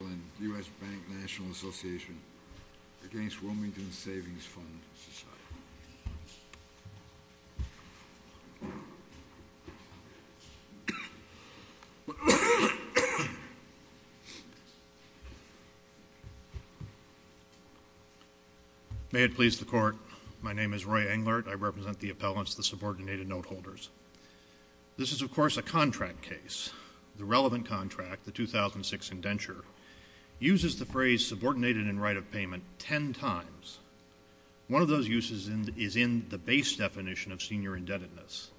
and U.S. Bank National Association against Wilmington Savings Fund Society. May it please the Court, my name is Roy Englert. I represent the appellants, the subordinated note holders. This is, of course, a contract case. The relevant contract, the 2006 indenture, uses the phrase subordinated in right of payment ten times. One of those uses is in the base definition of senior indebtedness.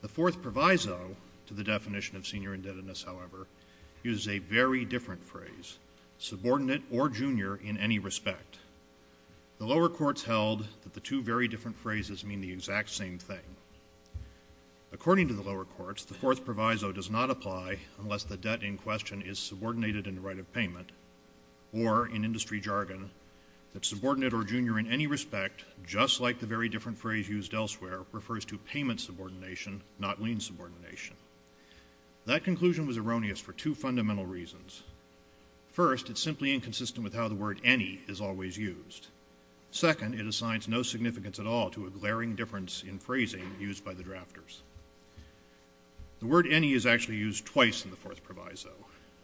The fourth proviso to the definition of senior indebtedness, however, uses a very different phrase, subordinate or junior in any respect. The lower courts held that the two very different phrases mean the exact same thing. According to the lower courts, the fourth proviso does not apply unless the debt in question is subordinated in right of payment, or, in industry jargon, that subordinate or junior in any respect, just like the very different phrase used elsewhere, refers to payment subordination, not lien subordination. That conclusion was erroneous for two fundamental reasons. First, it's simply inconsistent with how the word any is always used. Second, it assigns no significance at all to a glaring difference in phrasing used by the drafters. The word any is actually used twice in the fourth proviso.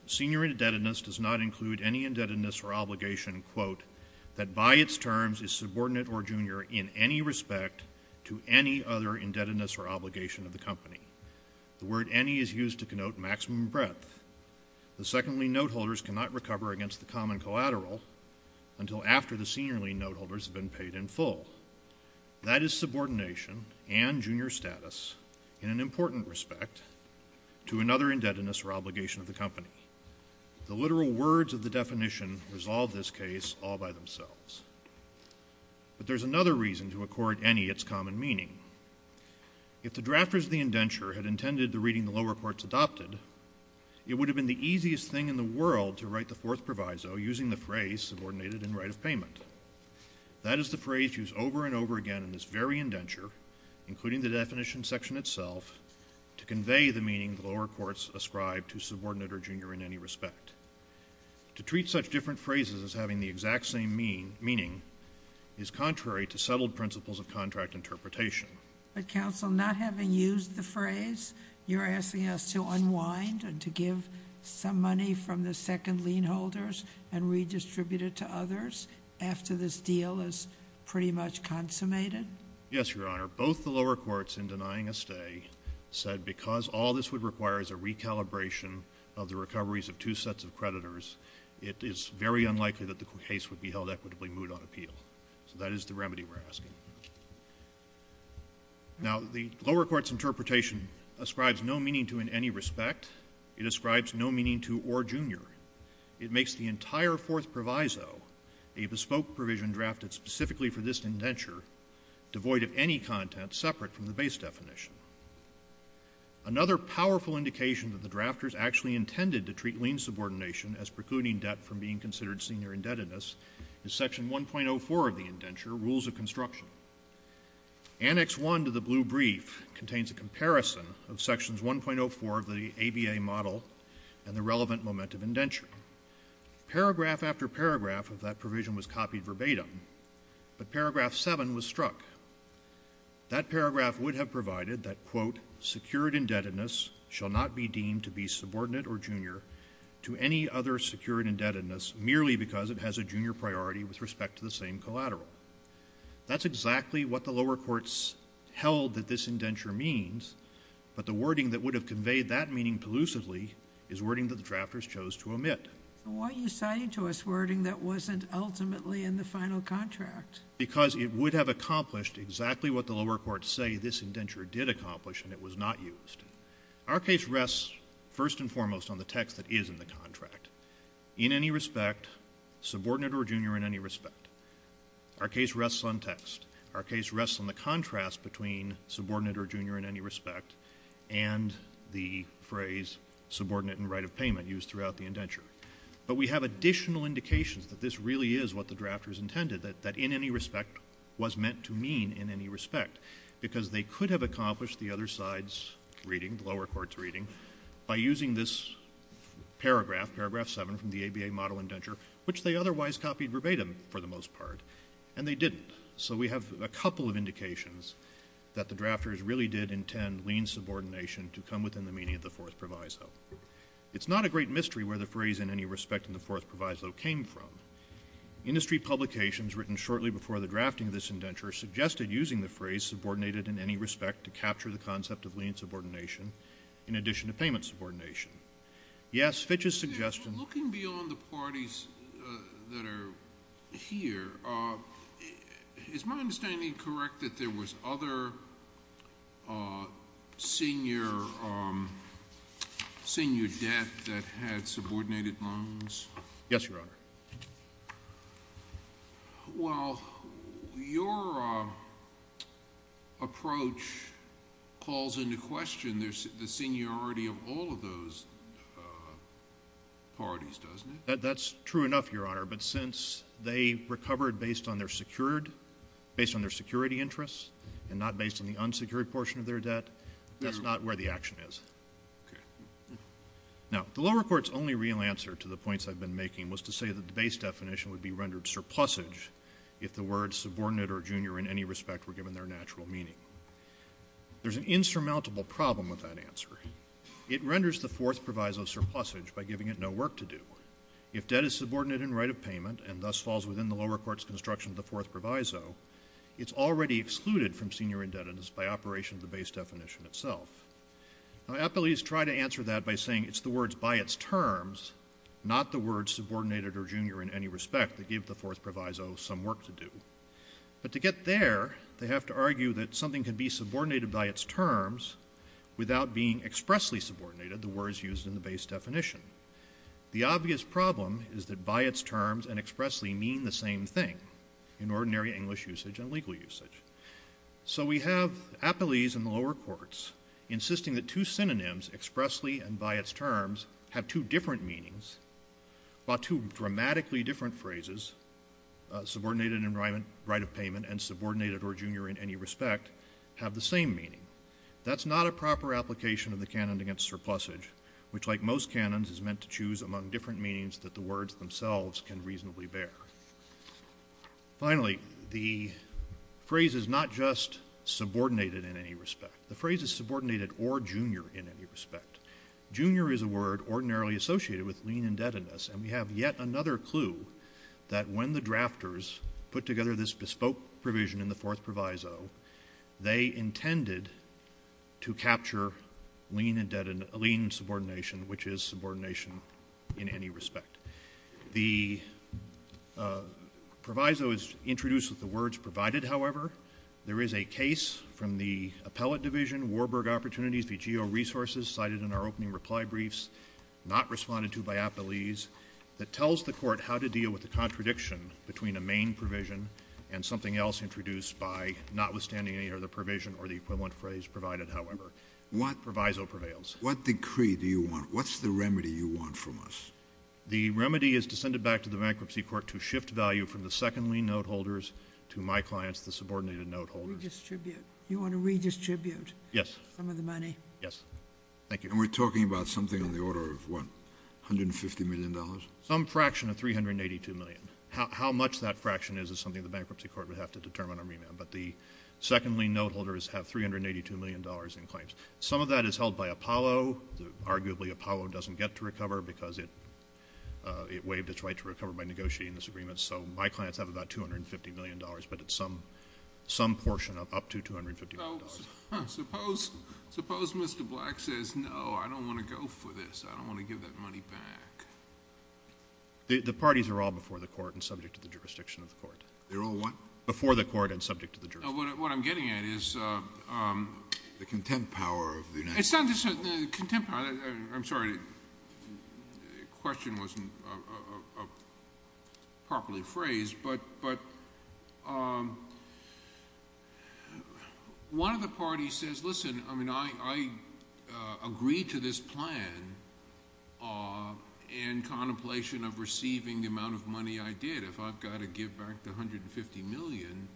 Senior indebtedness does not include any indebtedness or obligation, quote, that by its terms is subordinate or junior in any respect to any other indebtedness or obligation of the company. The word any is used to connote maximum breadth. The second lien note holders cannot recover against the common collateral until after the senior lien note holders have been paid in full. That is subordination and junior status in an important respect to another indebtedness or obligation of the company. The literal words of the definition resolve this case all by themselves. But there's another reason to accord any its common meaning. If the drafters of the indenture had intended the reading the lower courts adopted, it would have been the easiest thing in the world to write the fourth proviso using the phrase subordinated and right of payment. That is the phrase used over and over again in this very indenture, including the definition section itself, to convey the meaning the lower courts ascribe to subordinate or junior in any respect. To treat such different phrases as having the exact same meaning is contrary to settled principles of contract interpretation. But counsel, not having used the phrase, you're asking us to unwind and to give some money from the second lien holders and redistribute it to others after this deal is pretty much consummated? Yes, Your Honor. Both the lower courts in denying a stay said because all this would require is a recalibration of the recoveries of two sets of creditors, it is very unlikely that the case would be held equitably moot on appeal. So that is the remedy we're asking. Now, the lower court's interpretation ascribes no meaning to in any respect. It ascribes no meaning to or junior. It makes the entire fourth proviso a bespoke provision drafted specifically for this indenture, devoid of any content separate from the base definition. Another powerful indication that the drafters actually intended to treat lien subordination as precluding debt from being considered senior indebtedness is Section 1.04 of the indenture, Rules of Construction. Annex I to the blue brief contains a comparison of Sections 1.04 of the ABA model and the relevant moment of indenture. Paragraph after paragraph of that provision was copied verbatim, but Paragraph 7 was struck. That paragraph would have provided that, quote, shall not be deemed to be subordinate or junior to any other secured indebtedness merely because it has a junior priority with respect to the same collateral. That's exactly what the lower courts held that this indenture means, but the wording that would have conveyed that meaning elusively is wording that the drafters chose to omit. Why are you citing to us wording that wasn't ultimately in the final contract? Because it would have accomplished exactly what the lower courts say this indenture did accomplish, and it was not used. Our case rests first and foremost on the text that is in the contract. In any respect, subordinate or junior in any respect. Our case rests on text. Our case rests on the contrast between subordinate or junior in any respect and the phrase subordinate in right of payment used throughout the indenture. But we have additional indications that this really is what the drafters intended, that in any respect was meant to mean in any respect because they could have accomplished the other side's reading, the lower court's reading, by using this paragraph, paragraph 7 from the ABA model indenture, which they otherwise copied verbatim for the most part, and they didn't. So we have a couple of indications that the drafters really did intend lean subordination to come within the meaning of the Fourth Proviso. It's not a great mystery where the phrase in any respect in the Fourth Proviso came from. Industry publications written shortly before the drafting of this indenture suggested using the phrase subordinated in any respect to capture the concept of lean subordination in addition to payment subordination. Yes, Fitch's suggestion. Looking beyond the parties that are here, is my understanding correct that there was other senior debt that had subordinated loans? Yes, Your Honor. Well, your approach calls into question the seniority of all of those parties, doesn't it? That's true enough, Your Honor, but since they recovered based on their security interests and not based on the unsecured portion of their debt, that's not where the action is. Okay. Now, the lower court's only real answer to the points I've been making was to say that the base definition would be rendered surplusage if the words subordinate or junior in any respect were given their natural meaning. There's an insurmountable problem with that answer. It renders the Fourth Proviso surplusage by giving it no work to do. If debt is subordinate in right of payment and thus falls within the lower court's construction of the Fourth Proviso, it's already excluded from senior indebtedness by operation of the base definition itself. Now, appellees try to answer that by saying it's the words by its terms, not the words subordinated or junior in any respect that give the Fourth Proviso some work to do. But to get there, they have to argue that something can be subordinated by its terms without being expressly subordinated, the words used in the base definition. The obvious problem is that by its terms and expressly mean the same thing in ordinary English usage and legal usage. So we have appellees in the lower courts insisting that two synonyms expressly and by its terms have two different meanings while two dramatically different phrases, subordinated in right of payment and subordinated or junior in any respect, have the same meaning. That's not a proper application of the canon against surplusage, which like most canons is meant to choose among different meanings that the words themselves can reasonably bear. Finally, the phrase is not just subordinated in any respect. The phrase is subordinated or junior in any respect. Junior is a word ordinarily associated with lien indebtedness, and we have yet another clue that when the drafters put together this bespoke provision in the Fourth Proviso, they intended to capture lien subordination, which is subordination in any respect. The proviso is introduced with the words provided, however. There is a case from the Appellate Division, Warburg Opportunities v. GeoResources, cited in our opening reply briefs, not responded to by appellees, that tells the Court how to deal with the contradiction between a main provision and something else introduced by notwithstanding any other provision or the equivalent phrase provided, however. The proviso prevails. What decree do you want? What's the remedy you want from us? The remedy is to send it back to the Bankruptcy Court to shift value from the second lien note holders to my clients, the subordinated note holders. Redistribute. You want to redistribute some of the money? Yes. Thank you. And we're talking about something on the order of, what, $150 million? Some fraction of $382 million. How much that fraction is is something the Bankruptcy Court would have to determine or remand, but the second lien note holders have $382 million in claims. Some of that is held by Apollo. Arguably, Apollo doesn't get to recover because it waived its right to recover by negotiating this agreement. So my clients have about $250 million, but it's some portion up to $250 million. Suppose Mr. Black says, no, I don't want to go for this. I don't want to give that money back. The parties are all before the Court and subject to the jurisdiction of the Court. They're all what? Before the Court and subject to the jurisdiction. What I'm getting at is the content power of the United States. It's not just the content power. I'm sorry. The question wasn't properly phrased. But one of the parties says, listen, I agree to this plan in contemplation of receiving the amount of money I did. But if I've got to give back the $150 million,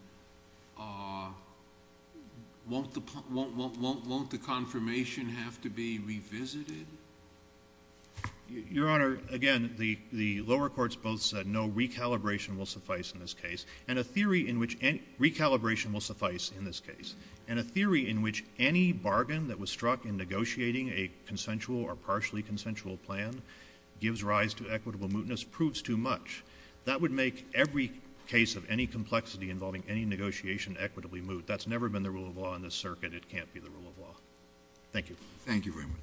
won't the confirmation have to be revisited? Your Honor, again, the lower courts both said no recalibration will suffice in this case. And a theory in which recalibration will suffice in this case. And a theory in which any bargain that was struck in negotiating a consensual or partially consensual plan gives rise to equitable mootness proves too much. That would make every case of any complexity involving any negotiation equitably moot. That's never been the rule of law in this circuit. It can't be the rule of law. Thank you. Thank you very much.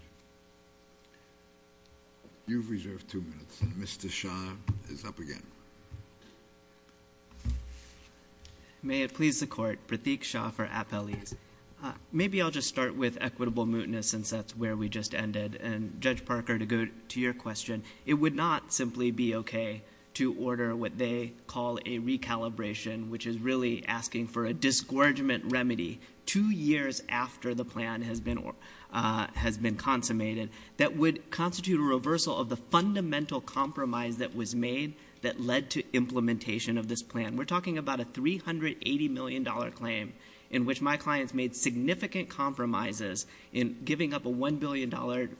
You've reserved two minutes. And Mr. Shah is up again. May it please the Court, Pratik Shah for Appellees. Maybe I'll just start with equitable mootness since that's where we just ended. And Judge Parker, to go to your question, it would not simply be okay to order what they call a recalibration, which is really asking for a disgorgement remedy two years after the plan has been consummated that would constitute a reversal of the fundamental compromise that was made that led to implementation of this plan. We're talking about a $380 million claim in which my clients made significant compromises in giving up a $1 billion,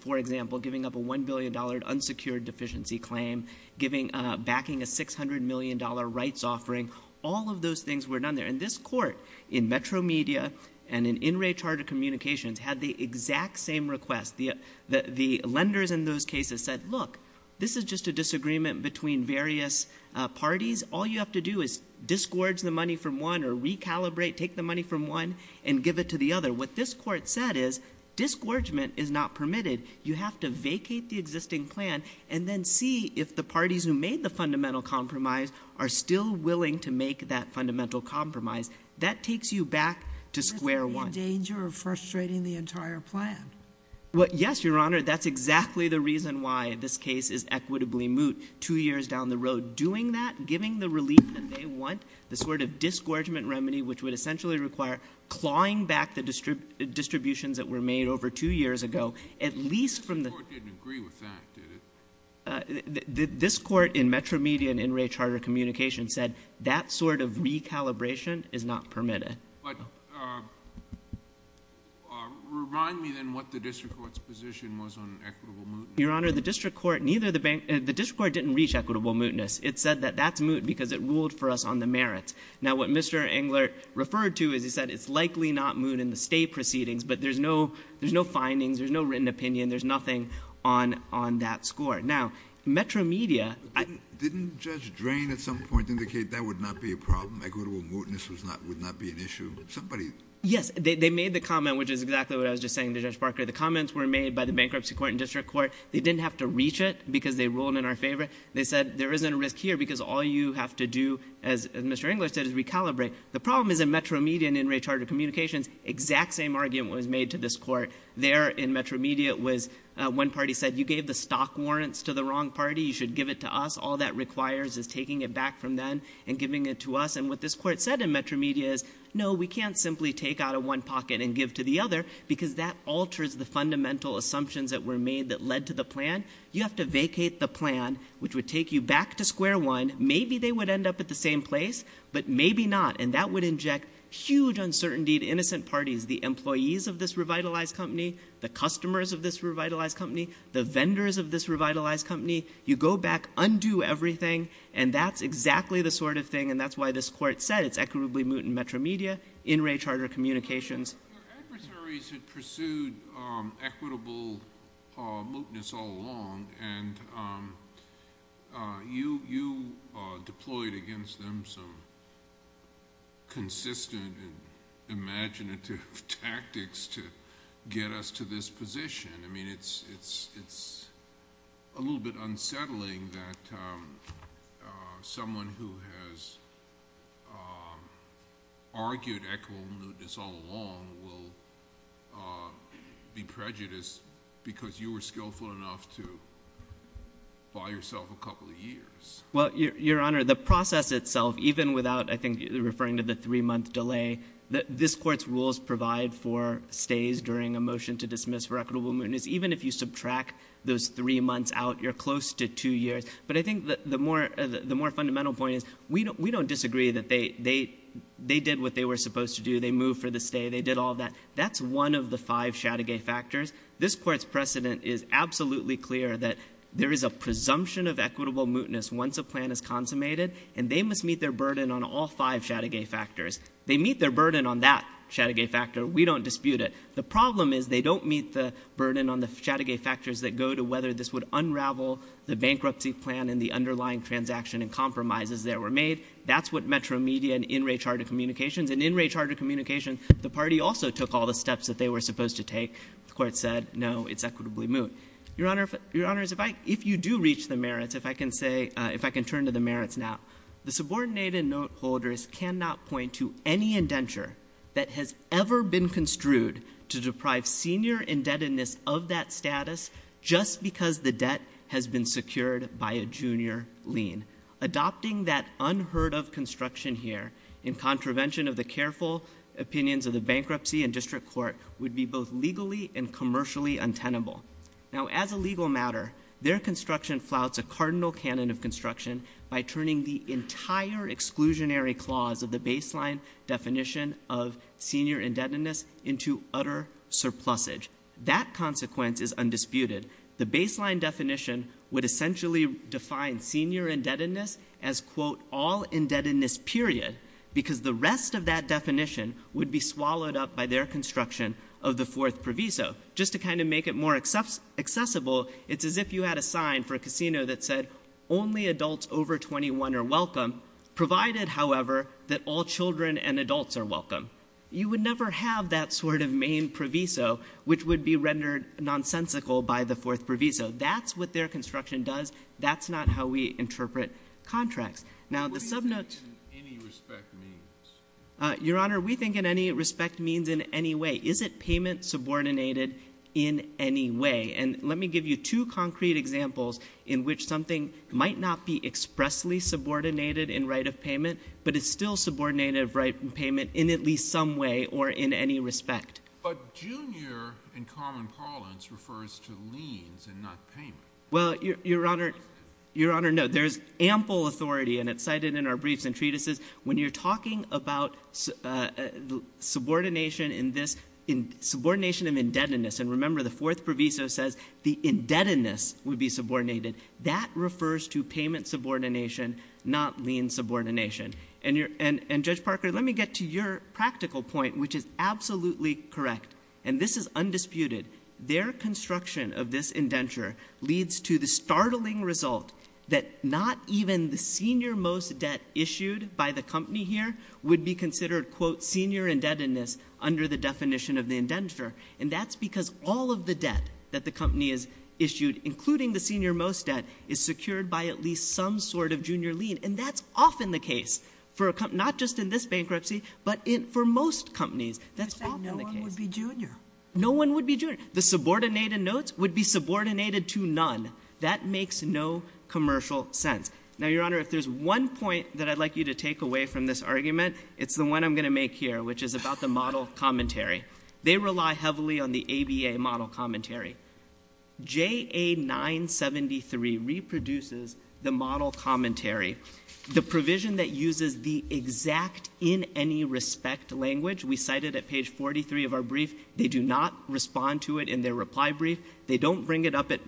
for example, giving up a $1 billion unsecured deficiency claim, backing a $600 million rights offering. All of those things were done there. And this Court in Metro Media and in In Re Charter Communications had the exact same request. The lenders in those cases said, look, this is just a disagreement between various parties. All you have to do is disgorge the money from one or recalibrate, take the money from one and give it to the other. What this Court said is disgorgement is not permitted. You have to vacate the existing plan and then see if the parties who made the fundamental compromise are still willing to make that fundamental compromise. That takes you back to square one. Is this the danger of frustrating the entire plan? Yes, Your Honor. That's exactly the reason why this case is equitably moot two years down the road. Doing that, giving the relief that they want, the sort of disgorgement remedy which would essentially require clawing back the distributions that were made over two years ago, at least from the— This Court didn't agree with that, did it? This Court in Metro Media and in Re Charter Communications said that sort of recalibration is not permitted. But remind me then what the district court's position was on equitable mootness. Your Honor, the district court didn't reach equitable mootness. It said that that's moot because it ruled for us on the merits. Now, what Mr. Engler referred to is he said it's likely not moot in the state proceedings, but there's no findings, there's no written opinion, there's nothing on that score. Now, Metro Media— Didn't Judge Drain at some point indicate that would not be a problem, equitable mootness would not be an issue? Somebody— Yes, they made the comment, which is exactly what I was just saying to Judge Barker. The comments were made by the bankruptcy court and district court. They didn't have to reach it because they ruled in our favor. They said there isn't a risk here because all you have to do, as Mr. Engler said, is recalibrate. The problem is in Metro Media and in Re Charter Communications, exact same argument was made to this court. There in Metro Media was one party said you gave the stock warrants to the wrong party. You should give it to us. All that requires is taking it back from them and giving it to us. And what this court said in Metro Media is no, we can't simply take out of one pocket and give to the other because that alters the fundamental assumptions that were made that led to the plan. You have to vacate the plan, which would take you back to square one. Maybe they would end up at the same place, but maybe not, and that would inject huge uncertainty to innocent parties, the employees of this revitalized company, the customers of this revitalized company, the vendors of this revitalized company. You go back, undo everything, and that's exactly the sort of thing, and that's why this court said it's equitably moot in Metro Media, in Re Charter Communications. Your adversaries had pursued equitable mootness all along, and you deployed against them some consistent and imaginative tactics to get us to this position. I mean, it's a little bit unsettling that someone who has argued equitable mootness all along will be prejudiced because you were skillful enough to buy yourself a couple of years. Well, Your Honor, the process itself, even without, I think, referring to the three-month delay, this court's rules provide for stays during a motion to dismiss for equitable mootness. Even if you subtract those three months out, you're close to two years. But I think the more fundamental point is we don't disagree that they did what they were supposed to do. They moved for the stay. They did all that. That's one of the five Chateauguay factors. This court's precedent is absolutely clear that there is a presumption of equitable mootness once a plan is consummated, and they must meet their burden on all five Chateauguay factors. They meet their burden on that Chateauguay factor. We don't dispute it. The problem is they don't meet the burden on the Chateauguay factors that go to whether this would unravel the bankruptcy plan and the underlying transaction and compromises that were made. That's what Metro Media and In-Ray Chartered Communications, and in In-Ray Chartered Communications, the party also took all the steps that they were supposed to take. The court said, no, it's equitably moot. Your Honor, if you do reach the merits, if I can say, if I can turn to the merits now, the subordinated note holders cannot point to any indenture that has ever been construed to deprive senior indebtedness of that status just because the debt has been secured by a junior lien. Adopting that unheard of construction here in contravention of the careful opinions of the bankruptcy and district court would be both legally and commercially untenable. Now, as a legal matter, their construction flouts a cardinal canon of construction by turning the entire exclusionary clause of the baseline definition of senior indebtedness into utter surplusage. That consequence is undisputed. The baseline definition would essentially define senior indebtedness as, quote, all indebtedness period because the rest of that definition would be swallowed up by their construction of the fourth proviso just to kind of make it more accessible. It's as if you had a sign for a casino that said, only adults over 21 are welcome, provided, however, that all children and adults are welcome. You would never have that sort of main proviso, which would be rendered nonsensical by the fourth proviso. That's what their construction does. That's not how we interpret contracts. Now, the subnotes— What do you think it in any respect means? Your Honor, we think in any respect means in any way. Is it payment subordinated in any way? And let me give you two concrete examples in which something might not be expressly subordinated in right of payment, but it's still subordinated of right of payment in at least some way or in any respect. But junior in common parlance refers to liens and not payment. Well, Your Honor, no. There's ample authority, and it's cited in our briefs and treatises. When you're talking about subordination in this—subordination of indebtedness, and remember the fourth proviso says the indebtedness would be subordinated. That refers to payment subordination, not lien subordination. And, Judge Parker, let me get to your practical point, which is absolutely correct, and this is undisputed. Their construction of this indenture leads to the startling result that not even the senior-most debt issued by the company here would be considered, quote, senior indebtedness under the definition of the indenture. And that's because all of the debt that the company has issued, including the senior-most debt, is secured by at least some sort of junior lien. And that's often the case for a—not just in this bankruptcy, but for most companies. That's often the case. You said no one would be junior. No one would be junior. The subordinated notes would be subordinated to none. That makes no commercial sense. Now, Your Honor, if there's one point that I'd like you to take away from this argument, it's the one I'm going to make here, which is about the model commentary. They rely heavily on the ABA model commentary. JA973 reproduces the model commentary, the provision that uses the exact in any respect language. We cite it at page 43 of our brief. They do not respond to it in their reply brief. They don't bring it up at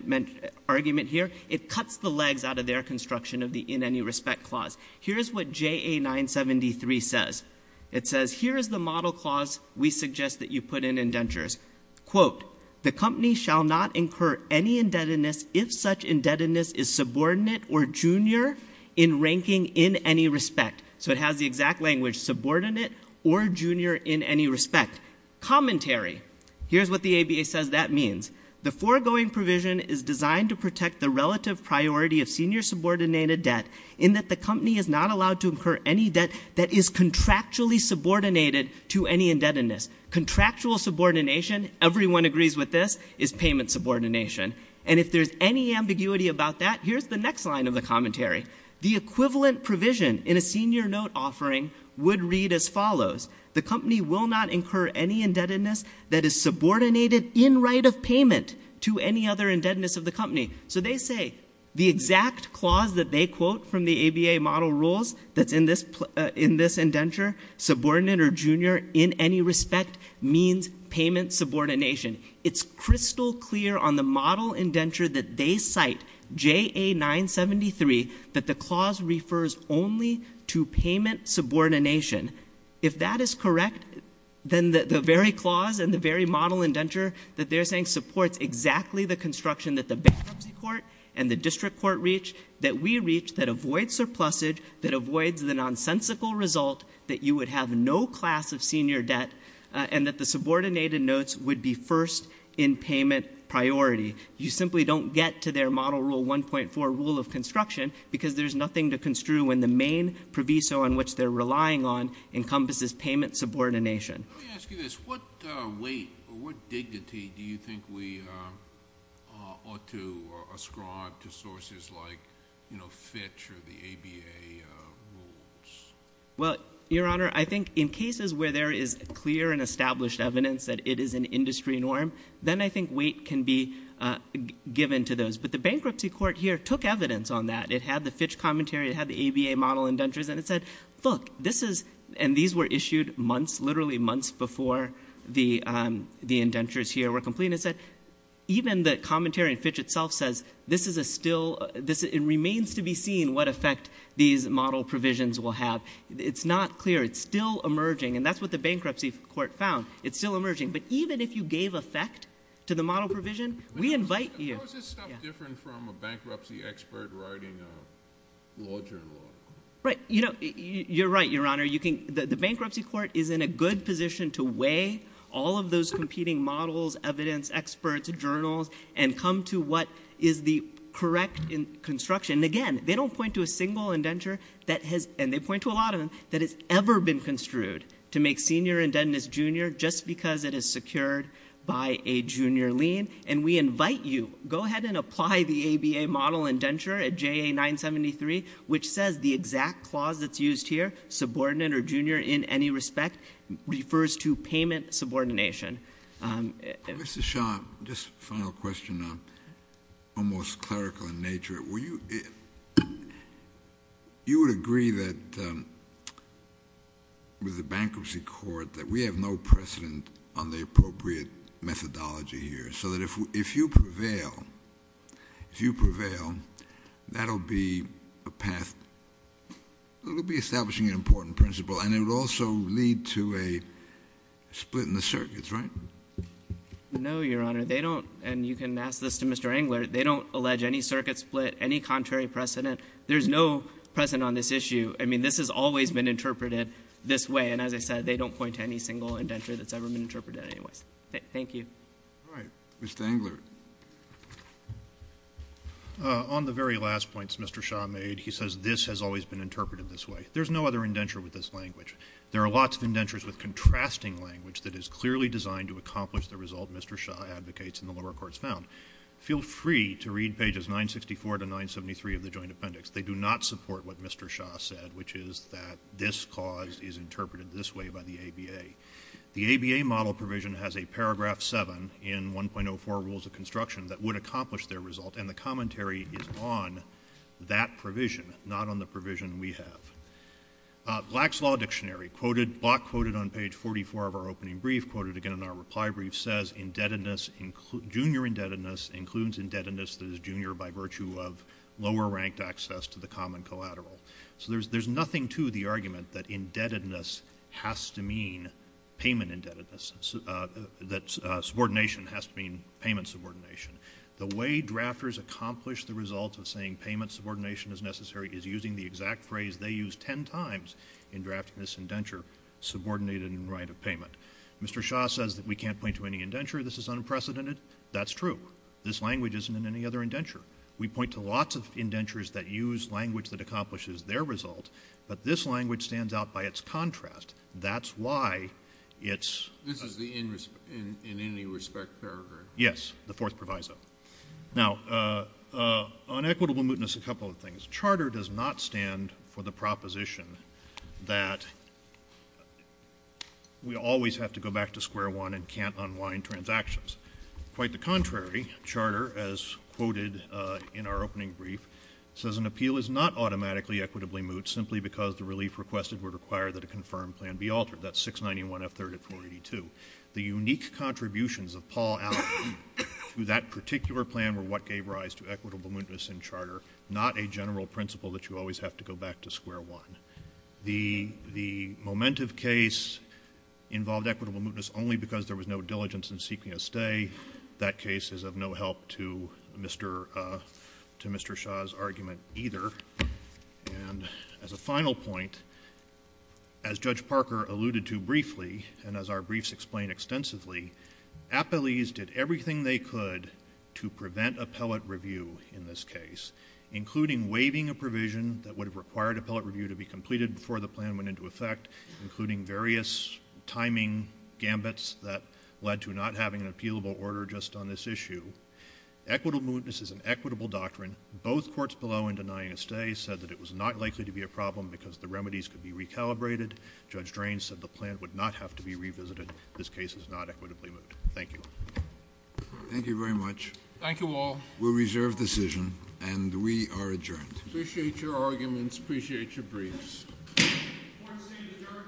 argument here. It cuts the legs out of their construction of the in any respect clause. Here's what JA973 says. It says, here is the model clause we suggest that you put in indentures. Quote, the company shall not incur any indebtedness if such indebtedness is subordinate or junior in ranking in any respect. So it has the exact language, subordinate or junior in any respect. Commentary. Here's what the ABA says that means. The foregoing provision is designed to protect the relative priority of senior subordinated debt in that the company is not allowed to incur any debt that is contractually subordinated to any indebtedness. Contractual subordination, everyone agrees with this, is payment subordination. And if there's any ambiguity about that, here's the next line of the commentary. The equivalent provision in a senior note offering would read as follows. The company will not incur any indebtedness that is subordinated in right of payment to any other indebtedness of the company. So they say the exact clause that they quote from the ABA model rules that's in this indenture, subordinate or junior in any respect means payment subordination. It's crystal clear on the model indenture that they cite, JA973, that the clause refers only to payment subordination. If that is correct, then the very clause and the very model indenture that they're saying supports exactly the construction that the bankruptcy court and the district court reach, that we reach, that avoids surplusage, that avoids the nonsensical result that you would have no class of senior debt, and that the subordinated notes would be first in payment priority. You simply don't get to their model rule 1.4 rule of construction because there's nothing to construe when the main proviso on which they're relying on encompasses payment subordination. Let me ask you this. What weight or what dignity do you think we ought to ascribe to sources like, you know, Fitch or the ABA rules? Well, Your Honor, I think in cases where there is clear and established evidence that it is an industry norm, then I think weight can be given to those. But the bankruptcy court here took evidence on that. It had the Fitch commentary. It had the ABA model indentures. And it said, look, this is, and these were issued months, literally months before the indentures here were completed. And it said even the commentary in Fitch itself says this is a still, it remains to be seen what effect these model provisions will have. It's not clear. It's still emerging. And that's what the bankruptcy court found. It's still emerging. But even if you gave effect to the model provision, we invite you. How is this stuff different from a bankruptcy expert writing a law journal article? Right. You know, you're right, Your Honor. You can, the bankruptcy court is in a good position to weigh all of those competing models, evidence, experts, journals, and come to what is the correct construction. And again, they don't point to a single indenture that has, and they point to a lot of them, that has ever been construed to make senior indebtedness junior just because it is secured by a junior lien. And we invite you, go ahead and apply the ABA model indenture at JA 973, which says the exact clause that's used here, subordinate or junior in any respect, refers to payment subordination. Mr. Shah, just a final question, almost clerical in nature. Will you, you would agree that with the bankruptcy court that we have no precedent on the appropriate methodology here, so that if you prevail, if you prevail, that will be a path, it will be establishing an important principle, and it will also lead to a split in the circuits, right? No, Your Honor. They don't, and you can ask this to Mr. Engler, they don't allege any circuit split, any contrary precedent. There's no precedent on this issue. I mean, this has always been interpreted this way, and as I said, they don't point to any single indenture that's ever been interpreted in any way. Thank you. All right. Mr. Engler. On the very last points Mr. Shah made, he says this has always been interpreted this way. There's no other indenture with this language. There are lots of indentures with contrasting language that is clearly designed to accomplish the result Mr. Shah advocates and the lower courts found. Feel free to read pages 964 to 973 of the joint appendix. They do not support what Mr. Shah said, which is that this clause is interpreted this way by the ABA. The ABA model provision has a paragraph 7 in 1.04 Rules of Construction that would accomplish their result, and the commentary is on that provision, not on the provision we have. Black's Law Dictionary, quoted, block quoted on page 44 of our opening brief, quoted again in our reply brief, says junior indebtedness includes indebtedness that is junior by virtue of lower-ranked access to the common collateral. So there's nothing to the argument that indebtedness has to mean payment indebtedness, that subordination has to mean payment subordination. The way drafters accomplish the result of saying payment subordination is necessary is using the exact phrase they use ten times in drafting this indenture, subordinated in right of payment. Mr. Shah says that we can't point to any indenture. This is unprecedented. That's true. This language isn't in any other indenture. We point to lots of indentures that use language that accomplishes their result, but this language stands out by its contrast. That's why it's — This is the in any respect paragraph? Yes, the fourth proviso. Now, on equitable mootness, a couple of things. Charter does not stand for the proposition that we always have to go back to square one and can't unwind transactions. Quite the contrary. Charter, as quoted in our opening brief, says an appeal is not automatically equitably moot simply because the relief requested would require that a confirmed plan be altered. That's 691F3rd of 482. The unique contributions of Paul Allen to that particular plan were what gave rise to equitable mootness in Charter, not a general principle that you always have to go back to square one. The Momentum case involved equitable mootness only because there was no diligence in seeking a stay. That case is of no help to Mr. Shaw's argument either. And as a final point, as Judge Parker alluded to briefly and as our briefs explain extensively, appellees did everything they could to prevent appellate review in this case, including waiving a provision that would have required appellate review to be completed before the plan went into effect, including various timing gambits that led to not having an appealable order just on this issue. Equitable mootness is an equitable doctrine. Both courts below in denying a stay said that it was not likely to be a problem because the remedies could be recalibrated. Judge Drain said the plan would not have to be revisited. This case is not equitably moot. Thank you. Thank you very much. Thank you all. We'll reserve decision, and we are adjourned. Appreciate your arguments. Appreciate your briefs. Court is adjourned.